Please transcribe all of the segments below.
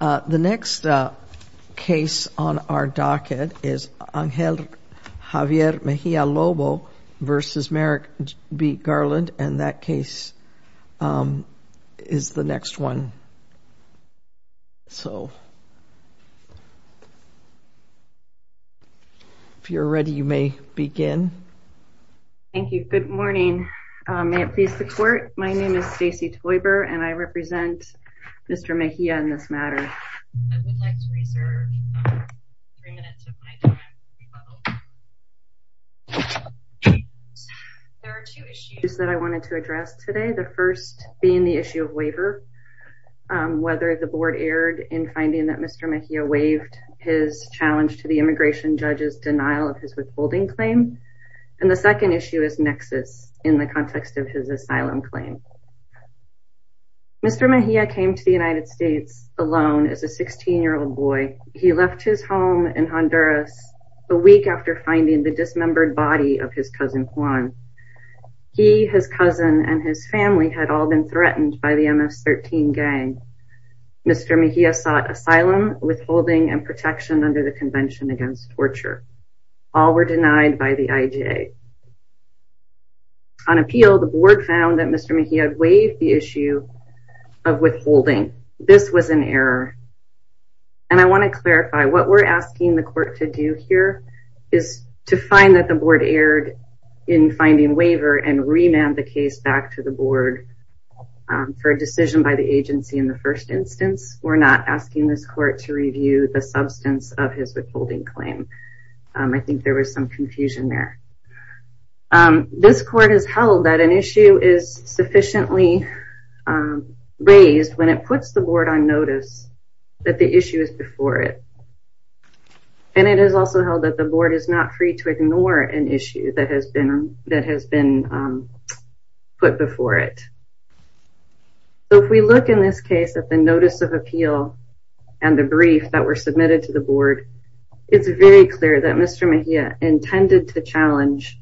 The next case on our docket is Angel Javier Mejia-Lobo v. Merrick B. Garland and that case is the next one. So if you're ready you may begin. Thank you. Good morning. May it please the court, my name is Stacy Toiber and I represent Mr. Mejia in this matter. There are two issues that I wanted to address today. The first being the issue of waiver, whether the board erred in finding that Mr. Mejia waived his challenge to the immigration judge's denial of his withholding claim and the second issue in the context of his asylum claim. Mr. Mejia came to the United States alone as a 16-year-old boy. He left his home in Honduras a week after finding the dismembered body of his cousin Juan. He, his cousin, and his family had all been threatened by the MS-13 gang. Mr. Mejia sought asylum, withholding, and protection under the Convention Against Torture. All were denied by the IJA. On appeal, the board found that Mr. Mejia waived the issue of withholding. This was an error and I want to clarify what we're asking the court to do here is to find that the board erred in finding waiver and remand the case back to the board for a decision by the agency in the first instance. We're not asking this court to review the substance of his withholding claim. I think there was some confusion there. This court has held that an issue is sufficiently raised when it puts the board on notice that the issue is before it and it is also held that the board is not free to ignore an issue that has been put before it. So if we look in this case at the notice of appeal and the brief that were submitted to the board, it's very clear that Mr. Mejia intended to challenge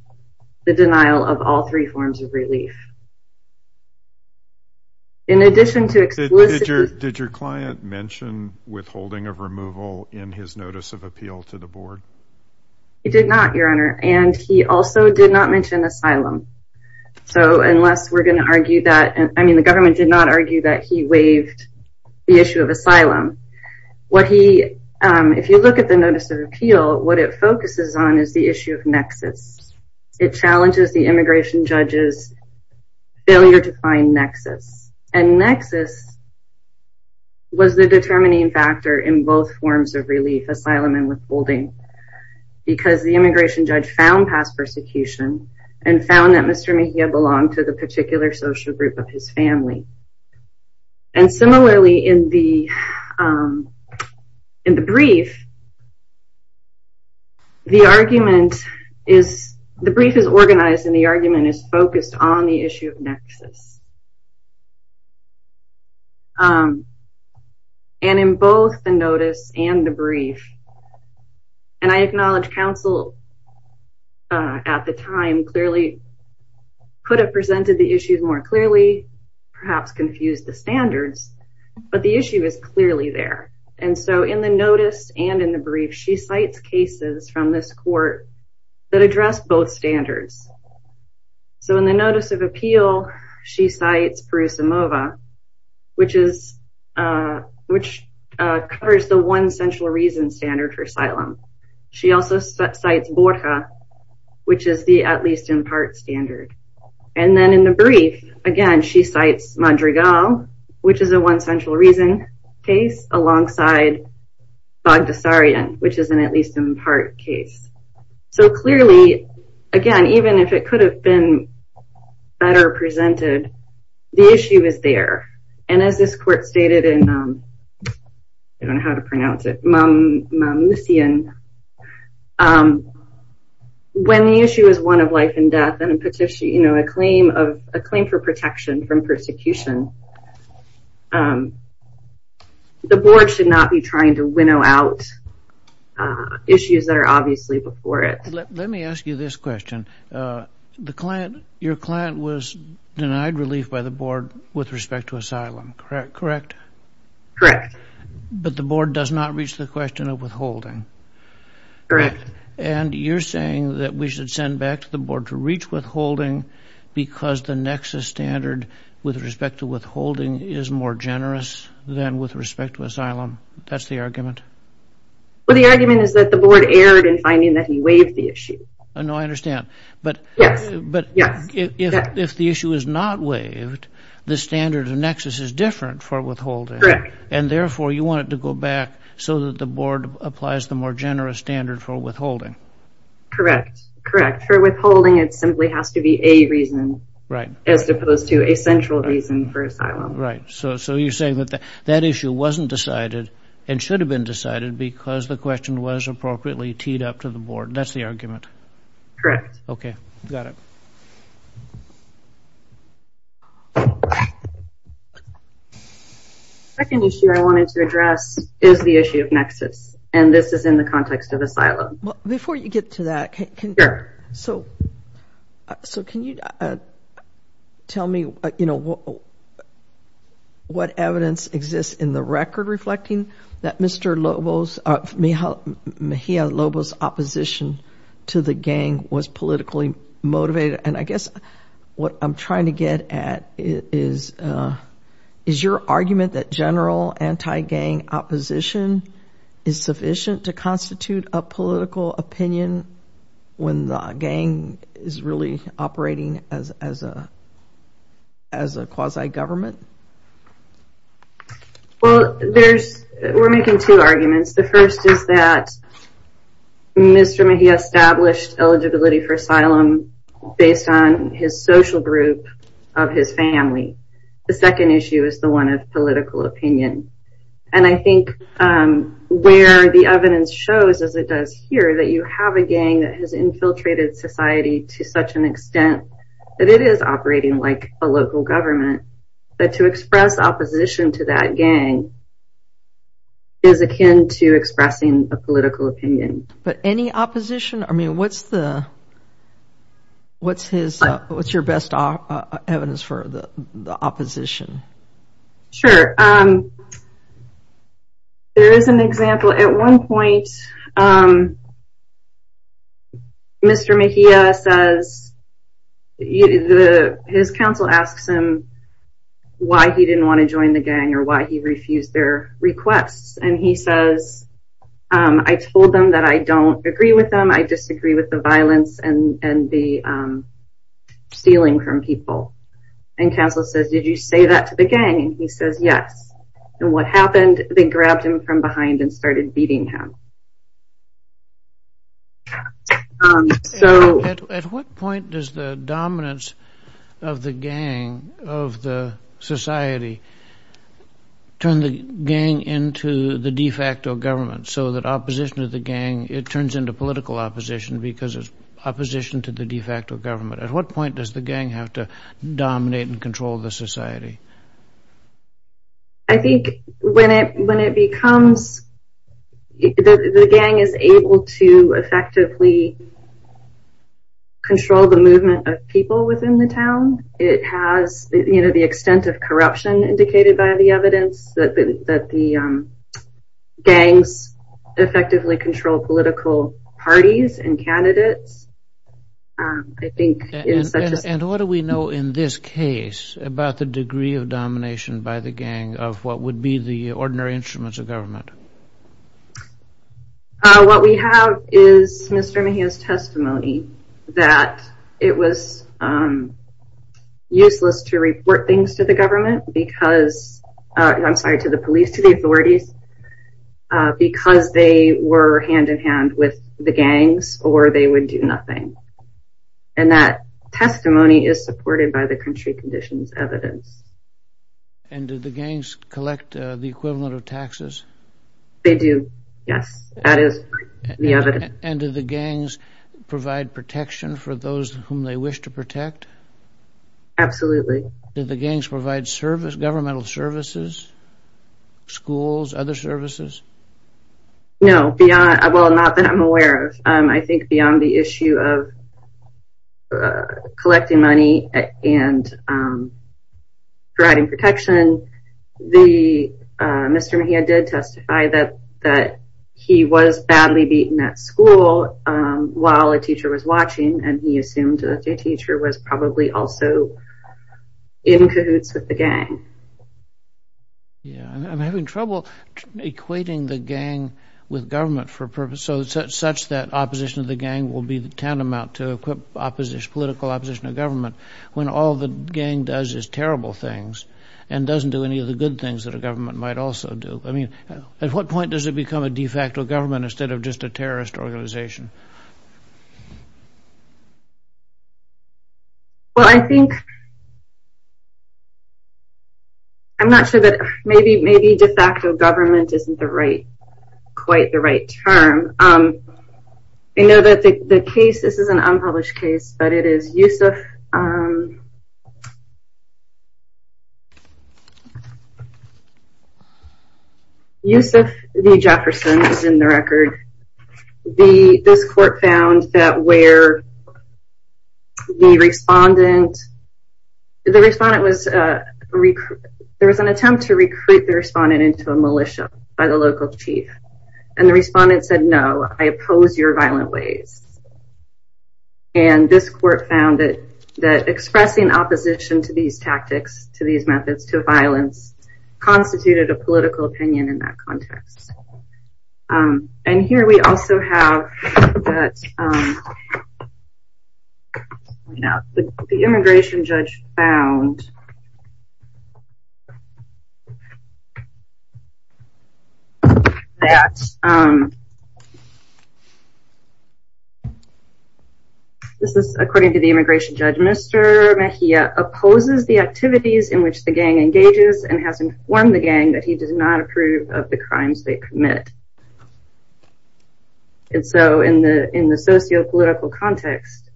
the denial of all three forms of relief. Did your client mention withholding of removal in his notice of appeal to the board? He did not, your honor, and he also did not mention asylum. So unless we're going to argue that, I mean the government did not argue that he waived the issue of asylum. If you look at the notice of appeal, what it focuses on is the issue of nexus. It challenges the immigration judge's failure to find nexus and nexus was the determining factor in both forms of relief, asylum and withholding, because the immigration judge found past persecution and found that Mr. Mejia's family was a part of a larger group of his family. And similarly in the brief, the argument is, the brief is organized and the argument is focused on the issue of nexus. And in both the notice and the brief, and I acknowledge counsel at the time clearly could have presented the issues more clearly, perhaps confused the standards, but the issue is clearly there. And so in the notice and in the brief, she cites cases from this court that address both standards. So in the notice of appeal, she cites Perusimova, which is, which covers the one central reason standard for asylum. She also cites Borja, which is the at standard. And then in the brief, again, she cites Madrigal, which is a one central reason case alongside Bogdasarian, which is an at least in part case. So clearly, again, even if it could have been better presented, the issue is there. And as this court stated in, I don't know how to pronounce it, Mamucian, when the issue is one of life and death and a petition, you know, a claim for protection from persecution, the board should not be trying to winnow out issues that are obviously before it. Let me ask you this question. The client, your client was denied relief by the board with respect to asylum, correct? Correct. But the board does not reach the question of withholding? Correct. And you're saying that we should send back to the board to reach withholding because the nexus standard with respect to withholding is more generous than with respect to asylum? That's the argument? Well, the argument is that the board erred in finding that he waived the issue. No, I understand. But yes, but if the issue is not waived, the standard of nexus is different for withholding. Correct. And therefore, you want it to go back so that the board applies the more generous standard for withholding? Correct. Correct. For withholding, it simply has to be a reason. Right. As opposed to a central reason for asylum. Right. So you're saying that that issue wasn't decided and should have been decided because the question was appropriately teed up to the board. That's the argument? Correct. Okay, got it. Second issue I wanted to address is the issue of nexus. And this is in the context of asylum. Before you get to that, so can you tell me what evidence exists in the record reflecting that Mr. Lobos, Mejia Lobos' opposition to the gang was politically motivated? And I guess what I'm trying to get at is your argument that general anti-gang opposition is sufficient to constitute a political opinion when the gang is really operating as a quasi-government? Well, we're making two arguments. The first is that Mr. Mejia established eligibility for asylum based on his social group of his family. The second issue is the one of political opinion. And I think where the evidence shows, as it does here, that you have a gang that has infiltrated society to such an extent that it is operating like a local government, that to express opposition to that gang is akin to expressing a political opinion. But any opposition? I mean, what's the what's his, what's your best evidence for the opposition? Sure. There is an example. At one point, Mr. Mejia says, his counsel asks him why he didn't want to join the gang or why he refused their requests. And he says, I told them that I don't agree with them. I disagree with the violence and the stealing from people. And counsel says, did you say that to the gang? He says, yes. And what happened? They grabbed him from behind and started beating him. So at what point does the dominance of the gang, of the society, turn the gang into the de facto government? So that opposition to the gang, it turns into political opposition because it's opposition to the de facto government. At what point does the gang have to dominate and control the society? I think when it becomes, the gang is able to effectively control the movement of people within the town. It has, you know, the extent of corruption indicated by the evidence that the gangs effectively control political parties and candidates. And what do we know in this case about the degree of domination by the gang of what would be the ordinary instruments of government? What we have is Mr. Mejia's testimony that it was useless to report things to the government because, I'm sorry, to the police, to the authorities, because they were hand-in-hand with the gangs or they would do nothing. And that testimony is supported by the country conditions evidence. And do the gangs collect the equivalent of taxes? They do, yes. That is the evidence. And do the gangs provide protection for those whom they wish to protect? Absolutely. Do the gangs provide service, governmental services, schools, other services? No, beyond, well, not that I'm aware of. I think beyond the issue of collecting money and providing protection, Mr. Mejia did testify that he was badly beaten at also in cahoots with the gang. Yeah, I'm having trouble equating the gang with government for purposes such that opposition of the gang will be tantamount to political opposition of government when all the gang does is terrible things and doesn't do any of the good things that a government might also do. I mean, at what point does it become a de facto government instead of just a terrorist organization? Well, I think I'm not sure that maybe de facto government isn't quite the right term. I know that the case, this is an unpublished case, but it is Yusuf V. Jefferson is in the record. This court found that where the respondent, the respondent was, there was an attempt to recruit the respondent into a militia by the local chief. And the respondent said, no, I oppose your violent ways. And this court found that expressing opposition to these tactics, to these methods, to violence, constituted a political opinion in that context. And here we also have that the immigration judge found that this is according to the immigration judge, Mr. Mejia opposes the activities in which the gang engages and has informed the gang that he does not approve of the crimes they commit. And so in the sociopolitical context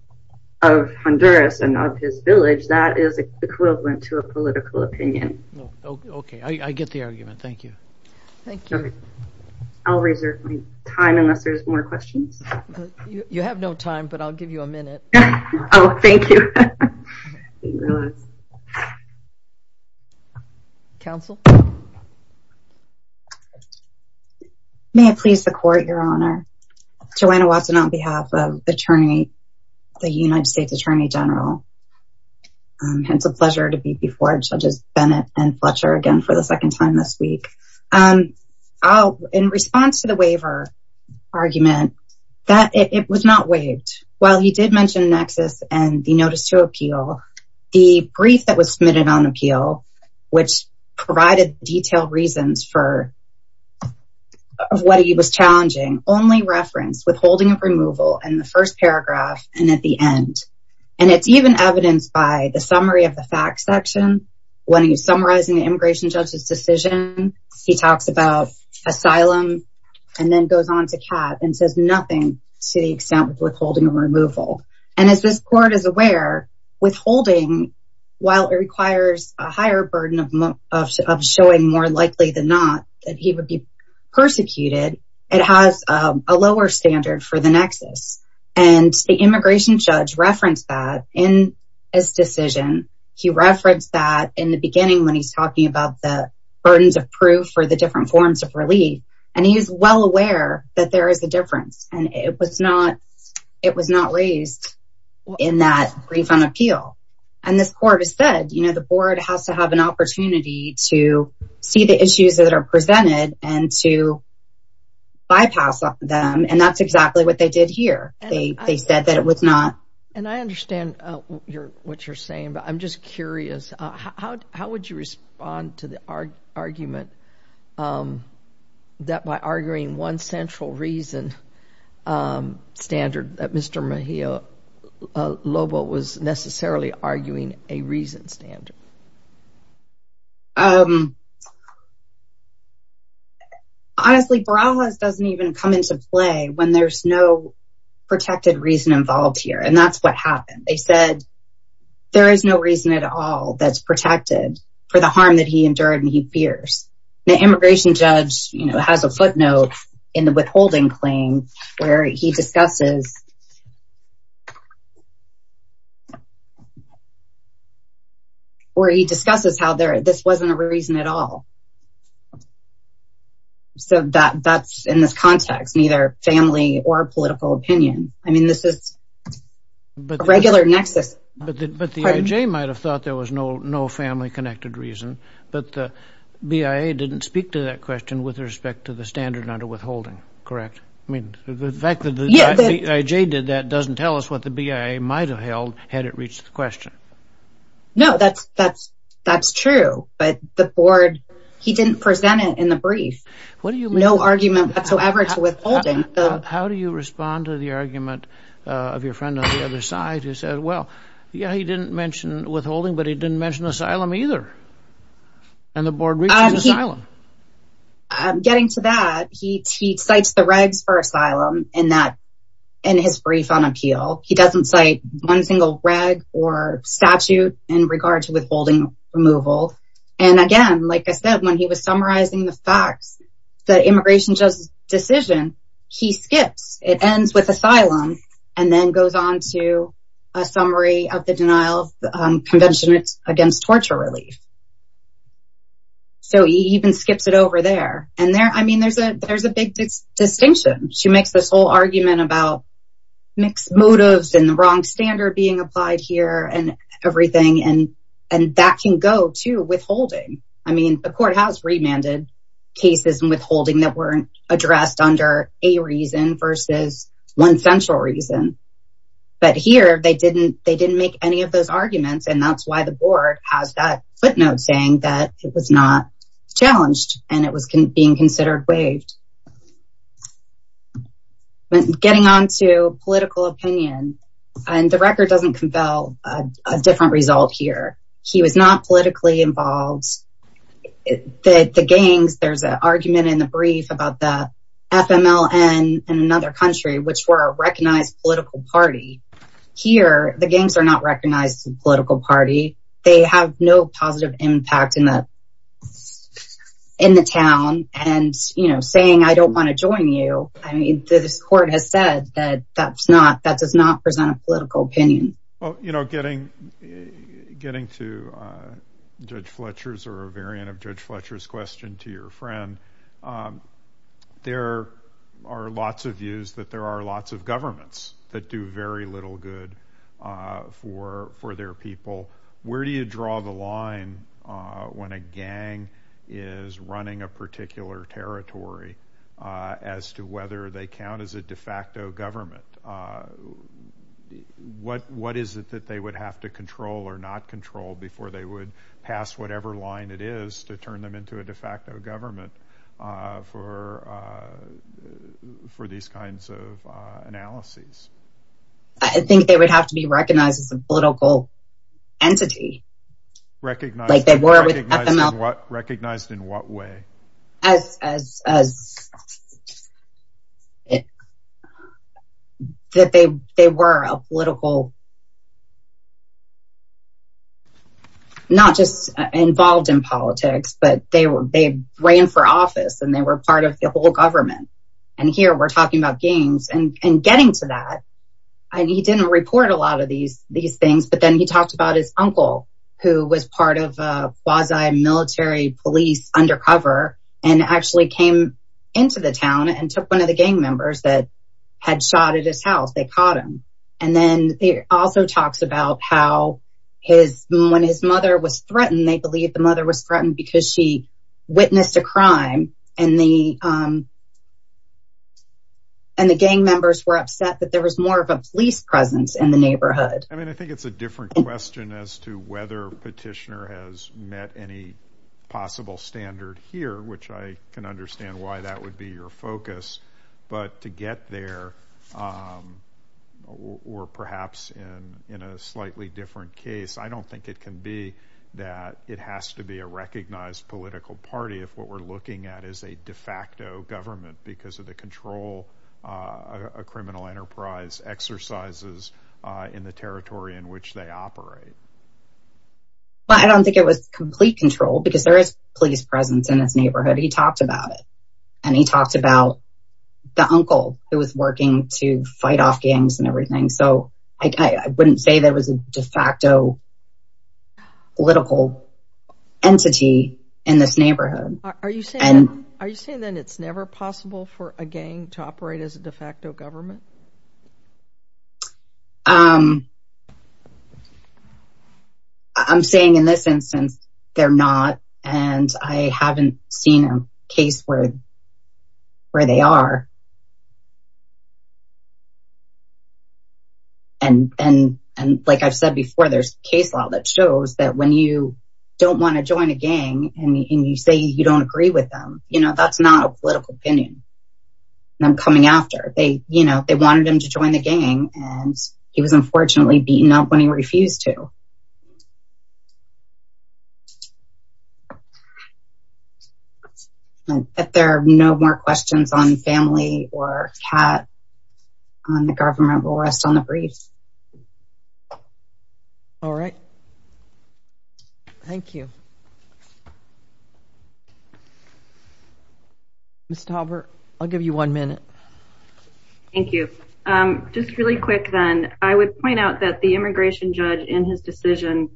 of Honduras and of his village, that is equivalent to a political opinion. Okay, I get the argument. Thank you. Thank you. I'll reserve my time unless there's more questions. You have no time, but I'll give you a minute. Oh, thank you. Counsel. May it please the court, Your Honor. Joanna Watson on behalf of the attorney, the United States Attorney General. It's a pleasure to be before judges Bennett and Fletcher again for the second time this week. In response to the waiver argument, that it was not waived. While he did mention nexus and the notice to appeal, the brief that was submitted on appeal, which provided detailed reasons for what he was challenging only referenced withholding of removal and the first paragraph and at the end. And it's even evidenced by the summary of the fact section. When he was summarizing the immigration judge's decision, he talks about And as this court is aware, withholding, while it requires a higher burden of showing more likely than not that he would be persecuted, it has a lower standard for the nexus. And the immigration judge referenced that in his decision. He referenced that in the beginning when he's talking about the burdens of proof for the different forms of relief. And he is well aware that there is a difference and it was not it was not raised in that brief on appeal. And this court has said, you know, the board has to have an opportunity to see the issues that are presented and to bypass them. And that's exactly what they did here. They said that it was not. And I understand what you're saying, but I'm just curious, how would you respond to the argument that by arguing one central reason standard that Mr. Mejia Lobo was necessarily arguing a reason standard? Honestly, Barajas doesn't even come into play when there's no protected reason involved here. And that's what happened. They said there is no reason at all that's protected for the harm that he endured and he fears. The immigration judge has a footnote in the withholding claim where he discusses. Or he discusses how this wasn't a reason at all. So that's in this context, neither family or political opinion. I mean, this is a regular But the IJ might have thought there was no family connected reason, but the BIA didn't speak to that question with respect to the standard under withholding, correct? I mean, the fact that the IJ did that doesn't tell us what the BIA might have held had it reached the question. No, that's true. But the board, he didn't present it in the brief. What do you mean? No argument whatsoever to withholding. How do you respond to the argument of your friend on the other side who said, well, yeah, he didn't mention withholding, but he didn't mention asylum either. And the board reached asylum. I'm getting to that. He cites the regs for asylum in that in his brief on appeal. He doesn't cite one single reg or statute in regard to withholding removal. And again, like I said, when he was summarizing the facts, the immigration judge's decision, he skips. It ends with asylum. And then goes on to a summary of the denial convention against torture relief. So he even skips it over there. And there I mean, there's a there's a big distinction. She makes this whole argument about mixed motives and the wrong standard being applied here and everything. And and that can go to withholding. I mean, the court has remanded cases and withholding that weren't addressed under a reason versus one central reason. But here they didn't they didn't make any of those arguments. And that's why the board has that footnote saying that it was not challenged and it was being considered waived. Getting on to political opinion and the record doesn't compel a different result here. He was arguing in the brief about the FMLN in another country, which were a recognized political party. Here, the gangs are not recognized as a political party. They have no positive impact in that in the town. And, you know, saying I don't want to join you. I mean, this court has said that that's not that does not present a political opinion. Well, you know, getting getting to Judge Fletcher's or a variant of Judge Fletcher's question to your friend. There are lots of views that there are lots of governments that do very little good for for their people. Where do you draw the line when a gang is running a particular territory as to whether they count as a de facto government? What is it that they would have to control or not control before they would pass whatever line it is to turn them into a de facto government for these kinds of analyses? I think they would have to be recognized as a political entity. Recognized in what way? As that they they were a political. Not just involved in politics, but they were they ran for office and they were part of the whole government. And here we're talking about gangs and getting to that. And he didn't report a lot of these these things. But then he talked about his uncle, who was part of a quasi military police undercover and actually came into the town and took one of the gang members that had shot at his house. They caught him. And then he also talks about how his when his mother was threatened. They believe the mother was threatened because she witnessed a crime and the. And the gang members were upset that there was more of a police presence in the neighborhood. I mean, I think it's a different question as to whether Petitioner has met any possible standard here, which I can understand why that would be your focus. But to get there, or perhaps in in a slightly different case, I don't think it can be that it has to be a recognized political party if what we're looking at is a de facto government because of the control a criminal enterprise exercises in the territory in which they operate. Well, I don't think it was complete control because there is police presence in this neighborhood. He talked about it and he talked about the uncle who was working to fight off gangs and everything. So I wouldn't say there was a de facto political entity in this neighborhood. Are you saying are you saying that it's never possible for a gang to be recognized as a political entity? Is it just a de facto government? I'm saying in this instance, they're not and I haven't seen a case where they are. And like I've said before, there's case law that shows that when you don't want to join a gang and you say you don't agree with them, you know, that's not a political opinion. I'm coming after they, you know, they wanted him to join the gang and he was unfortunately beaten up when he refused to. If there are no more questions on family or cat on the government will rest on the breeze. All right. Thank you. Ms. Tauber, I'll give you one minute. Thank you. Just really quick then, I would point out that the immigration judge in his decision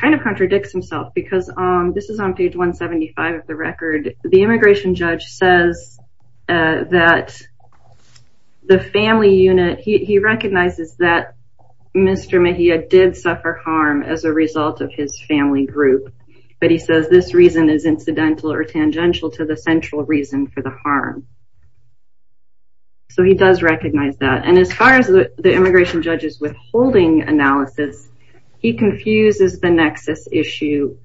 kind of contradicts himself because this is on page 175 of the record. The immigration judge says that the family unit, he recognizes that Mr. Mejia did suffer harm as a result of his family group. But he says this reason is incidental or tangential to the central reason for the harm. So he does recognize that. And as far as the immigration judge's withholding analysis, he confuses the nexus issue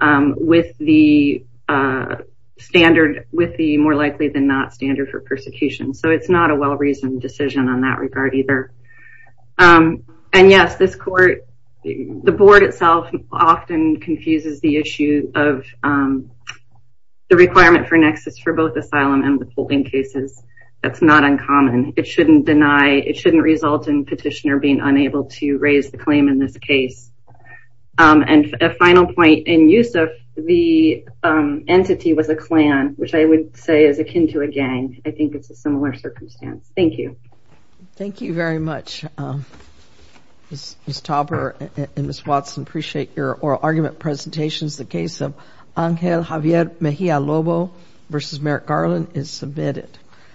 with the standard, with the more likely than not standard for persecution. So it's not a well-reasoned decision on that regard either. And yes, this court, the board itself often confuses the issue of the requirement for nexus for both asylum and withholding cases. That's not uncommon. It shouldn't deny, it shouldn't result in petitioner being unable to raise the claim in this case. And a final point, in Yusuf, the entity was a clan, which I would say is akin to a gang. I think it's a similar circumstance. Thank you. Thank you very much. Ms. Tauber and Ms. Watson, I appreciate your oral argument presentations. The case of Angel Javier Mejia Lobo v. Merrick Garland is submitted.